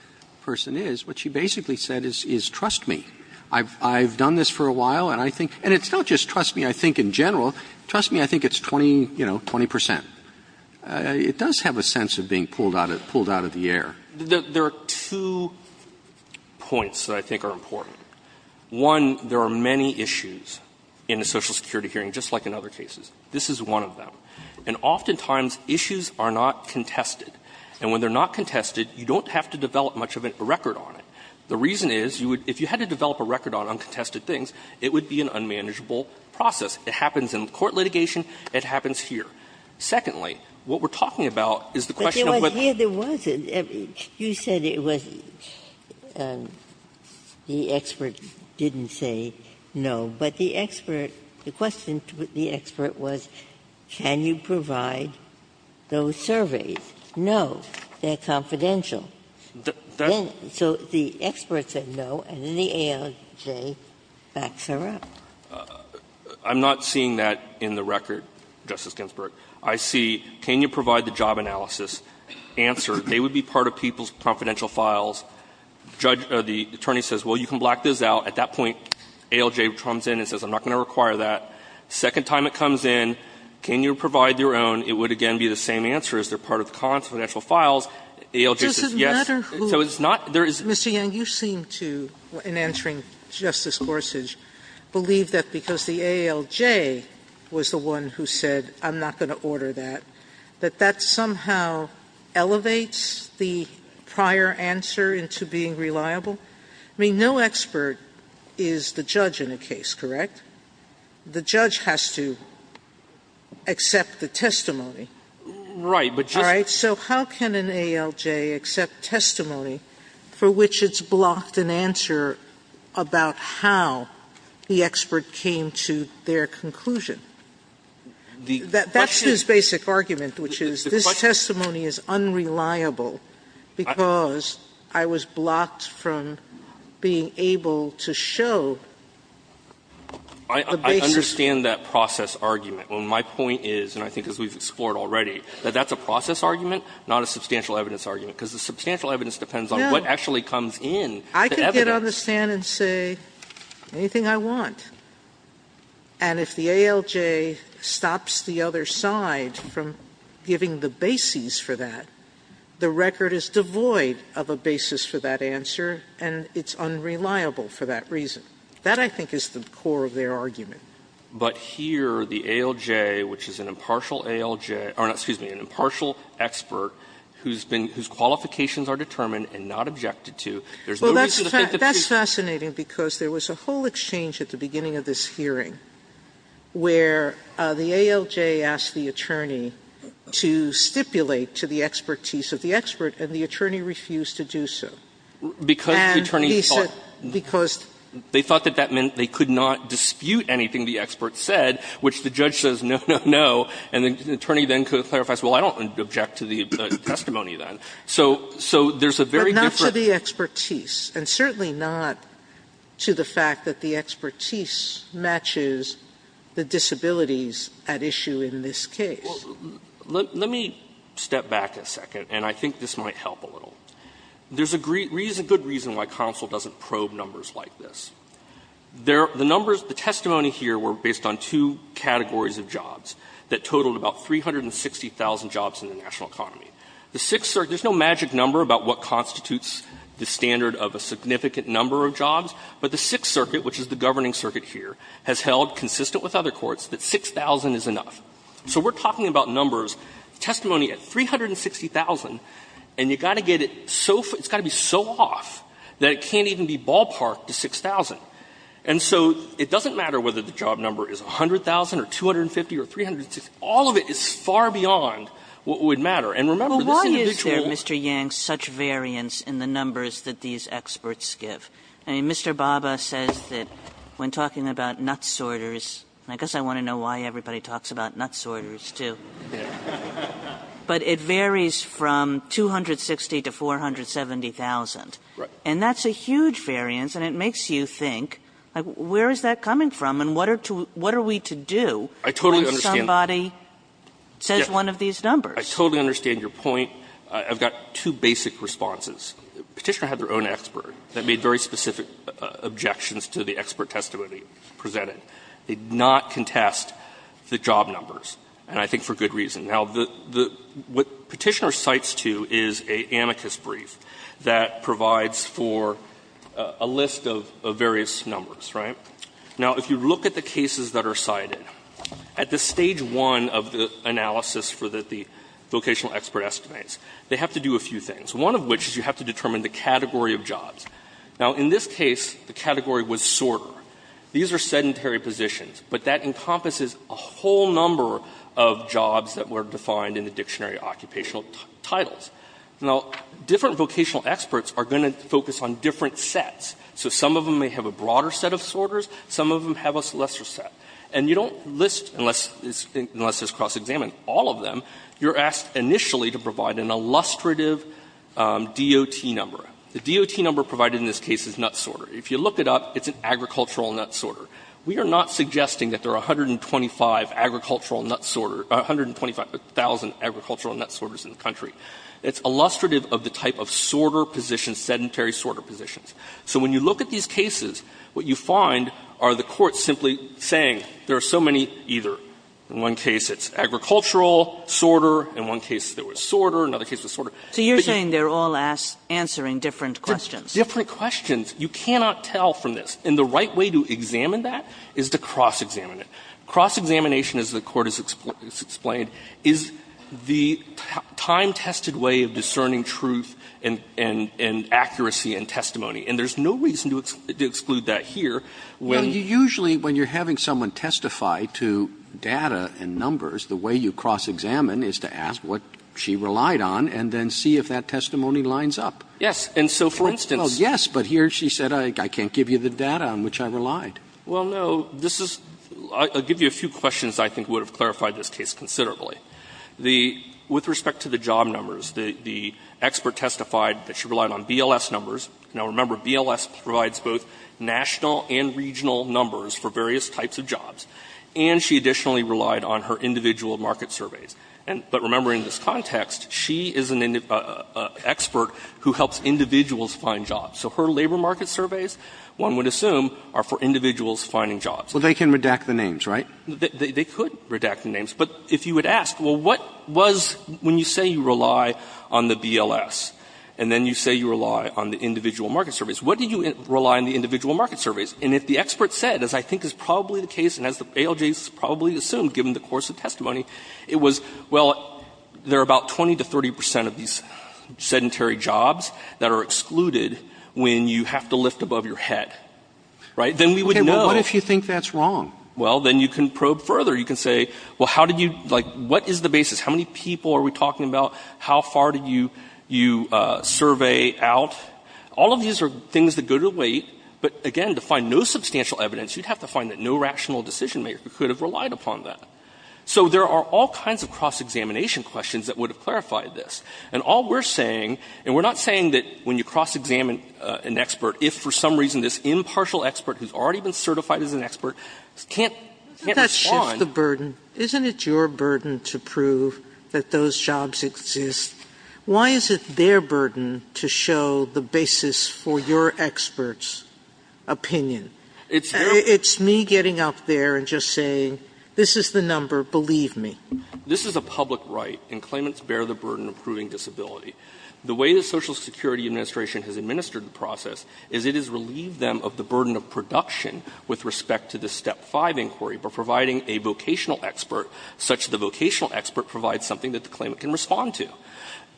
person is, what she basically said is, trust me. I've done this for a while, and I think, and it's not just trust me, I think, in general. Trust me, I think it's 20, you know, 20 percent. It does have a sense of being pulled out of the air. There are two points that I think are important. One, there are many issues in a Social Security hearing, just like in other cases. This is one of them. And oftentimes, issues are not contested. And when they're not contested, you don't have to develop much of a record on it. The reason is, if you had to develop a record on uncontested things, it would be an unmanageable process. It happens in court litigation. It happens here. Secondly, what we're talking about is the question of what the expert didn't say no, but the expert, the question to the expert was, can you provide those surveys? No. They're confidential. So the expert said no, and then the ALJ backs her up. I'm not seeing that in the record, Justice Ginsburg. I see, can you provide the job analysis, answer, they would be part of people's confidential files. Judge, the attorney says, well, you can black this out. At that point, ALJ comes in and says, I'm not going to require that. Second time it comes in, can you provide your own, it would again be the same answer. Is there part of the confidential files? ALJ says yes. Sotomayor, does it matter who? Mr. Yang, you seem to, in answering Justice Gorsuch, believe that because the ALJ was the one who said, I'm not going to order that, that that somehow elevates the prior answer into being reliable? I mean, no expert is the judge in a case, correct? The judge has to accept the testimony. All right? So how can an ALJ accept testimony for which it's blocked an answer about how the expert came to their conclusion? That's his basic argument, which is this testimony is unreliable because I was blocked from being able to show the basis. Yang, I understand that process argument. Well, my point is, and I think as we've explored already, that that's a process argument, not a substantial evidence argument, because the substantial evidence depends on what actually comes in. I can get on the stand and say anything I want, and if the ALJ stops the other side from giving the basis for that, the record is devoid of a basis for that answer and it's unreliable for that reason. That, I think, is the core of their argument. But here, the ALJ, which is an impartial ALJ or not, excuse me, an impartial expert whose qualifications are determined and not objected to, there's no reason to think that she's the expert. Well, that's fascinating because there was a whole exchange at the beginning of this hearing where the ALJ asked the attorney to stipulate to the expertise of the expert, and the attorney refused to do so. And he said he thought that meant they could not dispute anything the expert said, which the judge says no, no, no, and the attorney then clarifies, well, I don't object to the testimony then. So there's a very different But not to the expertise, and certainly not to the fact that the expertise matches the disabilities at issue in this case. Let me step back a second, and I think this might help a little. There's a good reason why counsel doesn't probe numbers like this. The numbers, the testimony here were based on two categories of jobs that totaled about 360,000 jobs in the national economy. The Sixth Circuit, there's no magic number about what constitutes the standard of a significant number of jobs, but the Sixth Circuit, which is the governing circuit here, has held, consistent with other courts, that 6,000 is enough. So we're talking about numbers, testimony at 360,000, and you've got to get it so far, it's got to be so off that it can't even be ballparked to 6,000. And so it doesn't matter whether the job number is 100,000 or 250 or 360, all of it is far beyond what would matter. And remember, this individual is the expert. I'm going to give you an example of the numbers that these experts give. Mr. Bhabha says that, when talking about nutsorters, and I guess I want to know why everybody talks about nutsorters, too, but it varies from 260,000 to 470,000, and that's a huge variance, and it makes you think, where is that coming from and what are we to do when somebody says one of these numbers. Hoffman. I totally understand. I totally understand your point. I've got two basic responses. Petitioner had their own expert that made very specific objections to the expert testimony presented. They did not contest the job numbers, and I think for good reason. Now, what Petitioner cites, too, is an amicus brief that provides for a list of various numbers, right? Now, if you look at the cases that are cited, at the stage one of the analysis for the vocational expert estimates, they have to do a few things, one of which is you have to determine the category of jobs. Now, in this case, the category was sorter. These are sedentary positions, but that encompasses a whole number of jobs that were defined in the dictionary occupational titles. Now, different vocational experts are going to focus on different sets. So some of them may have a broader set of sorters, some of them have a lesser set. And you don't list, unless it's cross-examined, all of them. You're asked initially to provide an illustrative DOT number. The DOT number provided in this case is nut sorter. If you look it up, it's an agricultural nut sorter. We are not suggesting that there are 125 agricultural nut sorters or 125,000 agricultural nut sorters in the country. It's illustrative of the type of sorter position, sedentary sorter positions. So when you look at these cases, what you find are the courts simply saying there are so many either. In one case, it's agricultural sorter. In one case, there was sorter. In another case, it was sorter. But you're saying they're all answering different questions. Different questions. You cannot tell from this. And the right way to examine that is to cross-examine it. Cross-examination, as the Court has explained, is the time-tested way of discerning truth and accuracy and testimony. And there's no reason to exclude that here. When you usually, when you're having someone testify to data and numbers, the way you cross-examine is to ask what she relied on and then see if that testimony lines up. Yes. And so, for instance. Well, yes, but here she said, I can't give you the data on which I relied. Well, no. This is – I'll give you a few questions I think would have clarified this case considerably. The – with respect to the job numbers, the expert testified that she relied on BLS numbers. Now, remember, BLS provides both national and regional numbers for various types of jobs. And she additionally relied on her individual market surveys. But remember, in this context, she is an expert who helps individuals find jobs. So her labor market surveys, one would assume, are for individuals finding jobs. Well, they can redact the names, right? They could redact the names. But if you would ask, well, what was – when you say you rely on the BLS and then you say you rely on the individual market surveys, what do you rely on the individual market surveys? And if the expert said, as I think is probably the case and as the ALJs probably assume, given the course of testimony, it was, well, there are about 20 to 30 percent of these sedentary jobs that are excluded when you have to lift above your head, right? Then we would know. Okay. Well, what if you think that's wrong? Well, then you can probe further. You can say, well, how did you – like, what is the basis? How many people are we talking about? How far did you survey out? All of these are things that go to weight. But again, to find no substantial evidence, you'd have to find that no rational decision-maker could have relied upon that. So there are all kinds of cross-examination questions that would have clarified this. And all we're saying – and we're not saying that when you cross-examine an expert, if for some reason this impartial expert who's already been certified as an expert can't respond. Sotomayor, isn't it your burden to prove that those jobs exist? Why is it their burden to show the basis for your expert's opinion? It's me getting up there and just saying, this is the number, believe me. This is a public right, and claimants bear the burden of proving disability. The way the Social Security Administration has administered the process is it has relieved them of the burden of production with respect to the Step 5 inquiry, by providing a vocational expert such that the vocational expert provides something that the claimant can respond to.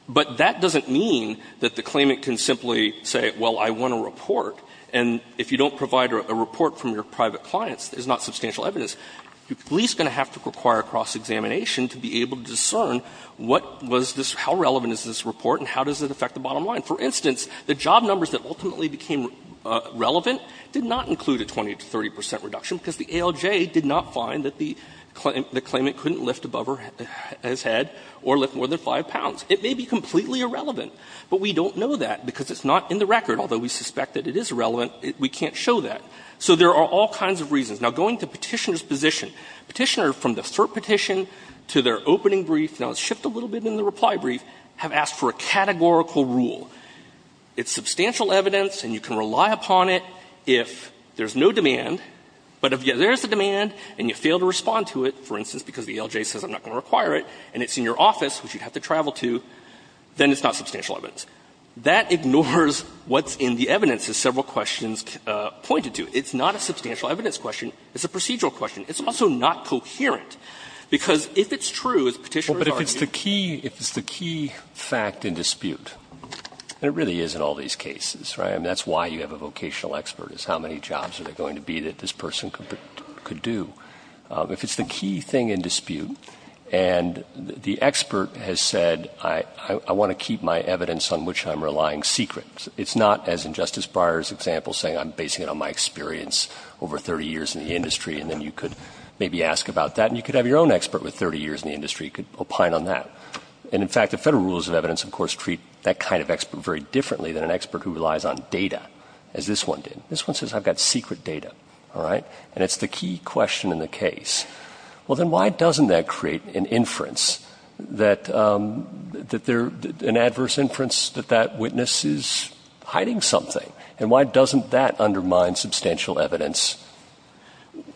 But that doesn't mean that the claimant can simply say, well, I want a report. And if you don't provide a report from your private clients, there's not substantial evidence. You're at least going to have to require cross-examination to be able to discern what was this – how relevant is this report and how does it affect the bottom line. For instance, the job numbers that ultimately became relevant did not include a 20 to 30 percent reduction because the ALJ did not find that the claimant couldn't lift above his head or lift more than 5 pounds. It may be completely irrelevant, but we don't know that because it's not in the record. Although we suspect that it is relevant, we can't show that. So there are all kinds of reasons. Now, going to Petitioner's position, Petitioner, from the third petition to their opening brief, now let's shift a little bit in the reply brief, have asked for a categorical rule. It's substantial evidence and you can rely upon it if there's no demand, but if there is a demand and you fail to respond to it, for instance, because the ALJ says I'm not going to require it, and it's in your office, which you have to travel to, then it's not substantial evidence. That ignores what's in the evidence, as several questions pointed to. It's not a substantial evidence question. It's a procedural question. It's also not coherent, because if it's true, as Petitioner's argued – fact in dispute, and it really is in all these cases, right? I mean, that's why you have a vocational expert, is how many jobs are there going to be that this person could do. If it's the key thing in dispute, and the expert has said I want to keep my evidence on which I'm relying secret, it's not as in Justice Breyer's example saying I'm basing it on my experience over 30 years in the industry, and then you could maybe ask about that, and you could have your own expert with 30 years in the industry who could opine on that. And, in fact, the Federal Rules of Evidence, of course, treat that kind of expert very differently than an expert who relies on data, as this one did. This one says I've got secret data, all right? And it's the key question in the case. Well, then why doesn't that create an inference that they're – an adverse inference that that witness is hiding something? And why doesn't that undermine substantial evidence?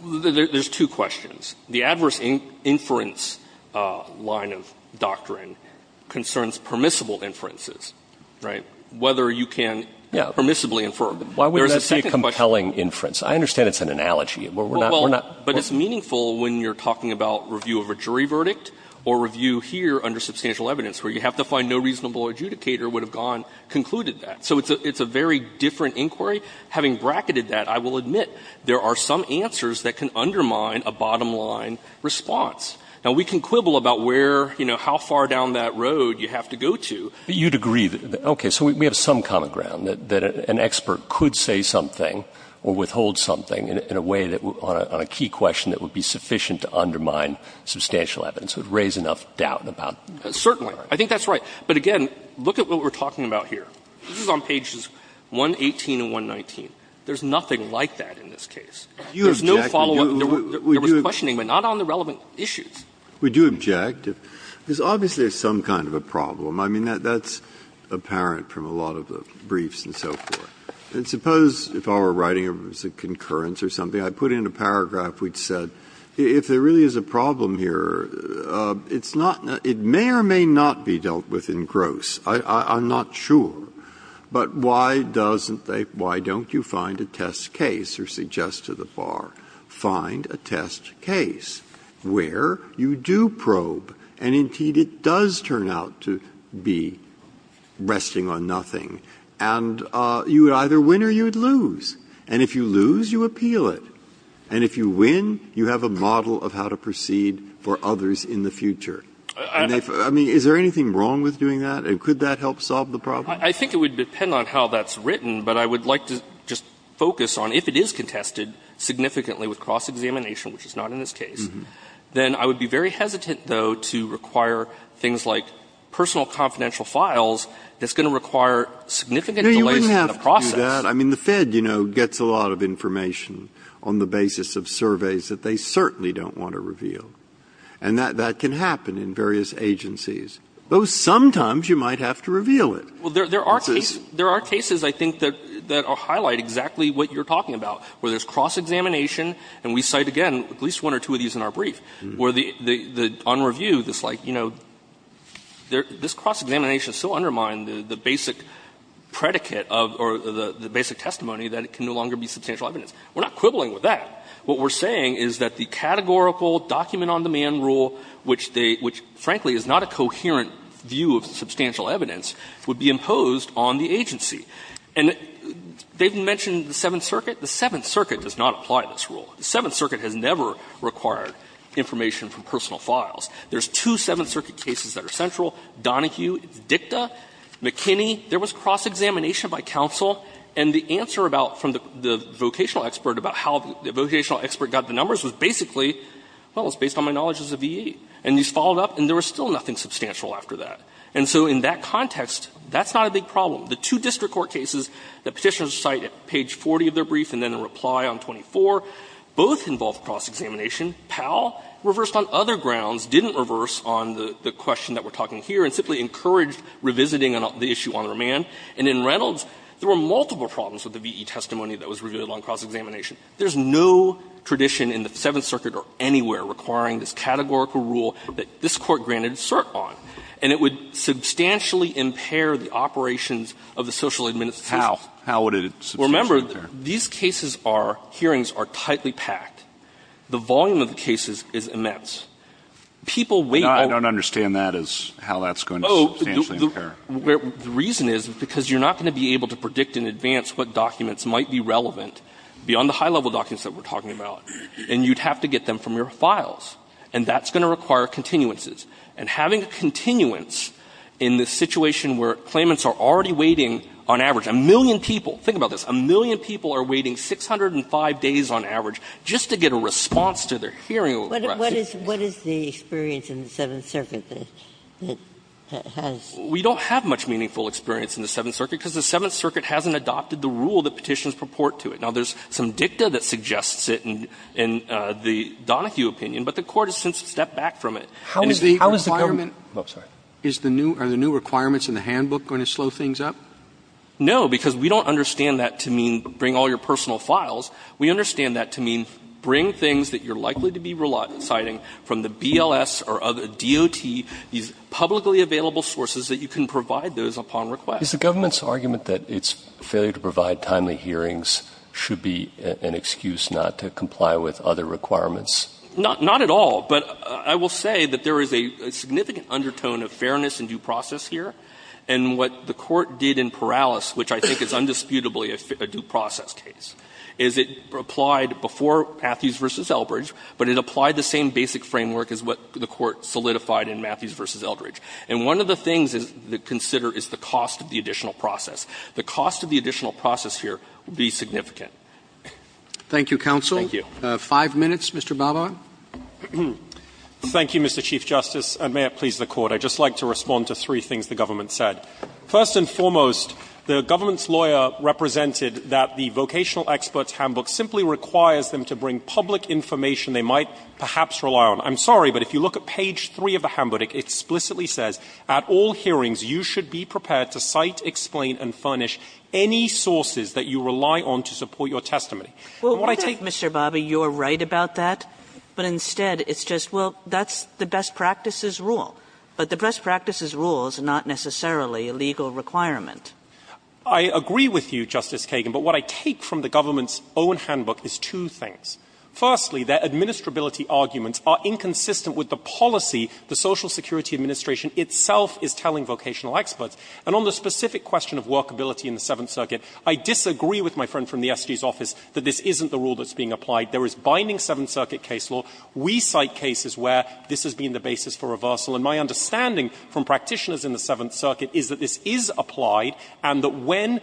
There's two questions. The adverse inference line of doctrine concerns permissible inferences, right? Whether you can permissibly infer. There's a second question. Why would that be a compelling inference? I understand it's an analogy. We're not – we're not – Well, but it's meaningful when you're talking about review of a jury verdict or review here under substantial evidence, where you have to find no reasonable adjudicator would have gone – concluded that. So it's a very different inquiry. Having bracketed that, I will admit there are some answers that can undermine a bottom-line response. Now, we can quibble about where, you know, how far down that road you have to go to. But you'd agree that – okay, so we have some common ground, that an expert could say something or withhold something in a way that – on a key question that would be sufficient to undermine substantial evidence, would raise enough doubt about – Certainly. I think that's right. But again, look at what we're talking about here. This is on pages 118 and 119. There's nothing like that in this case. There's no follow-up. There was questioning, but not on the relevant issues. We do object. There's obviously some kind of a problem. I mean, that's apparent from a lot of the briefs and so forth. And suppose if I were writing a concurrence or something, I put in a paragraph which said if there really is a problem here, it's not – it may or may not be dealt with in gross. I'm not sure. But why doesn't they – why don't you find a test case or suggest to the bar, find a test case where you do probe, and indeed it does turn out to be resting on nothing, and you would either win or you would lose. And if you lose, you appeal it. And if you win, you have a model of how to proceed for others in the future. And they – I mean, is there anything wrong with doing that? And could that help solve the problem? I think it would depend on how that's written, but I would like to just focus on if it is contested significantly with cross-examination, which is not in this case, then I would be very hesitant, though, to require things like personal confidential files that's going to require significant delays in the process. No, you wouldn't have to do that. I mean, the Fed, you know, gets a lot of information on the basis of surveys that they certainly don't want to reveal. And that can happen in various agencies. Though sometimes you might have to reveal it. Well, there are cases – there are cases, I think, that highlight exactly what you're talking about, where there's cross-examination, and we cite, again, at least one or two of these in our brief, where the – on review, it's like, you know, this cross-examination is so undermined, the basic predicate of – or the basic testimony that it can no longer be substantial evidence. We're not quibbling with that. What we're saying is that the categorical document-on-demand rule, which they – which, frankly, is not a coherent view of substantial evidence, would be imposed on the agency. And they've mentioned the Seventh Circuit. The Seventh Circuit does not apply this rule. The Seventh Circuit has never required information from personal files. There's two Seventh Circuit cases that are central, Donohue, Dicta, McKinney. There was cross-examination by counsel, and the answer about – from the vocational expert about how the vocational expert got the numbers was basically, well, it's based on my knowledge as a V.E. And these followed up, and there was still nothing substantial after that. And so in that context, that's not a big problem. The two district court cases that Petitioners cite at page 40 of their brief and then in reply on 24, both involve cross-examination. Powell reversed on other grounds, didn't reverse on the question that we're talking here, and simply encouraged revisiting the issue on demand. And in Reynolds, there were multiple problems with the V.E. testimony that was revealed on cross-examination. There's no tradition in the Seventh Circuit or anywhere requiring this categorical rule that this Court granted cert on. And it would substantially impair the operations of the social administration. How? How would it substantially impair? Remember, these cases are – hearings are tightly packed. The volume of the cases is immense. People wait on – No, I don't understand that as how that's going to substantially impair. Oh, the reason is because you're not going to be able to predict in advance what documents might be relevant beyond the high-level documents that we're talking about, and you'd have to get them from your files. And that's going to require continuances. And having a continuance in the situation where claimants are already waiting on average, a million people – think about this – a million people are waiting 605 days on average just to get a response to their hearing request. What is the experience in the Seventh Circuit that has – Now, there's some dicta that suggests it in the Donohue opinion, but the Court has since stepped back from it. And if the requirement – How is the Government – oh, sorry. Is the new – are the new requirements in the handbook going to slow things up? No, because we don't understand that to mean bring all your personal files. We understand that to mean bring things that you're likely to be reciting from the BLS or other – DOT, these publicly available sources that you can provide those upon request. Is the Government's argument that its failure to provide timely hearings should be an excuse not to comply with other requirements? Not at all. But I will say that there is a significant undertone of fairness and due process here. And what the Court did in Perales, which I think is undisputably a due process case, is it applied before Matthews v. Eldridge, but it applied the same basic framework as what the Court solidified in Matthews v. Eldridge. And one of the things to consider is the cost of the additional process. The cost of the additional process here would be significant. Thank you, counsel. Thank you. Five minutes. Mr. Babak. Thank you, Mr. Chief Justice, and may it please the Court. I'd just like to respond to three things the Government said. First and foremost, the Government's lawyer represented that the vocational expert's handbook simply requires them to bring public information they might perhaps rely on. I'm sorry, but if you look at page 3 of the handbook, it explicitly says, at all hearings, you should be prepared to cite, explain, and furnish any sources that you rely on to support your testimony. And what I take Mr. Babak, you're right about that, but instead, it's just, well, that's the best practices rule. But the best practices rule is not necessarily a legal requirement. I agree with you, Justice Kagan, but what I take from the Government's own handbook is two things. Firstly, their administrability arguments are inconsistent with the policy the Social Security Administration itself is telling vocational experts. And on the specific question of workability in the Seventh Circuit, I disagree with my friend from the SG's office that this isn't the rule that's being applied. There is binding Seventh Circuit case law. We cite cases where this has been the basis for reversal. And my understanding from practitioners in the Seventh Circuit is that this is applied and that when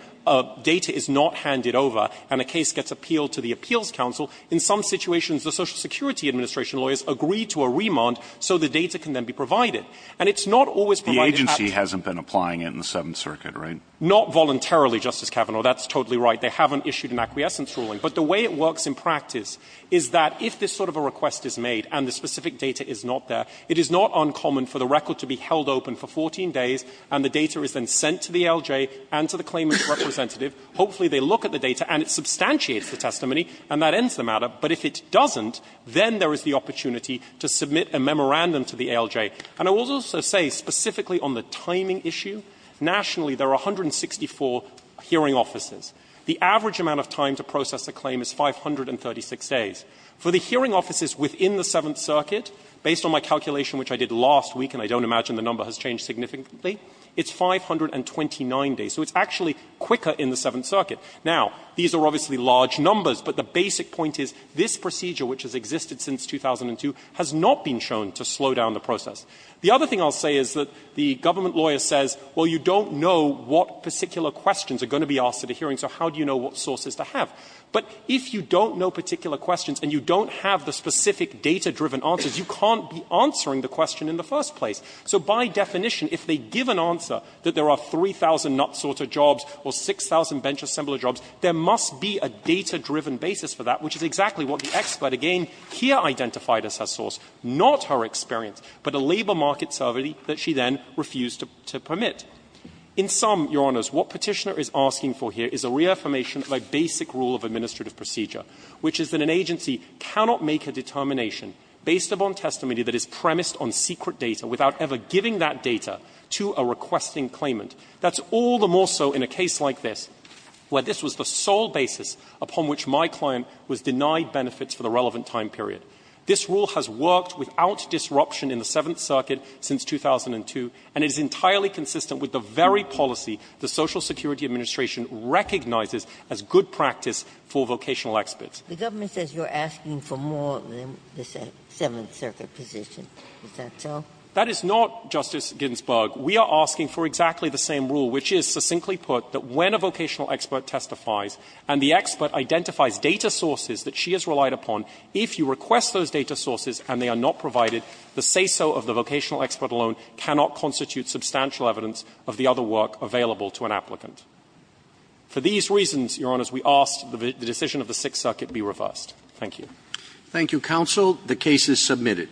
data is not handed over and a case gets appealed to the appeals counsel, in some situations the Social Security Administration lawyers agree to a remand so the data can then be provided. And it's not always provided at the agency hasn't been applying it in the Seventh Circuit, right? Not voluntarily, Justice Kavanaugh. That's totally right. They haven't issued an acquiescence ruling. But the way it works in practice is that if this sort of a request is made and the specific data is not there, it is not uncommon for the record to be held open for 14 days and the data is then sent to the LJ and to the claimant's representative. Hopefully they look at the data and it substantiates the testimony and that ends the matter. But if it doesn't, then there is the opportunity to submit a memorandum to the ALJ. And I will also say specifically on the timing issue, nationally there are 164 hearing offices. The average amount of time to process a claim is 536 days. For the hearing offices within the Seventh Circuit, based on my calculation which I did last week, and I don't imagine the number has changed significantly, it's 529 days. So it's actually quicker in the Seventh Circuit. Now, these are obviously large numbers, but the basic point is this procedure which has existed since 2002 has not been shown to slow down the process. The other thing I'll say is that the government lawyer says, well, you don't know what particular questions are going to be asked at a hearing, so how do you know what sources to have? But if you don't know particular questions and you don't have the specific data-driven answers, you can't be answering the question in the first place. So by definition, if they give an answer that there are 3,000 nut-sorter jobs or 6,000 bench assembler jobs, there must be a data-driven basis for that, which is exactly what the expert again here identified as her source, not her experience, but a labor market survey that she then refused to permit. In sum, Your Honors, what Petitioner is asking for here is a reaffirmation of a basic rule of administrative procedure, which is that an agency cannot make a determination based upon testimony that is premised on secret data without ever giving that data to a requesting claimant. That's all the more so in a case like this, where this was the sole basis upon which my client was denied benefits for the relevant time period. This rule has worked without disruption in the Seventh Circuit since 2002, and it is entirely consistent with the very policy the Social Security Administration recognizes as good practice for vocational experts. Ginsburg-Ginzburg The government says you're asking for more than the Seventh Circuit position. Is that so? That is not, Justice Ginsburg, we are asking for exactly the same rule, which is, succinctly put, that when a vocational expert testifies and the expert identifies data sources that she has relied upon, if you request those data sources and they are not provided, the say-so of the vocational expert alone cannot constitute substantial evidence of the other work available to an applicant. For these reasons, Your Honors, we ask that the decision of the Sixth Circuit be reversed. Roberts-Garza Thank you, counsel. The case is submitted.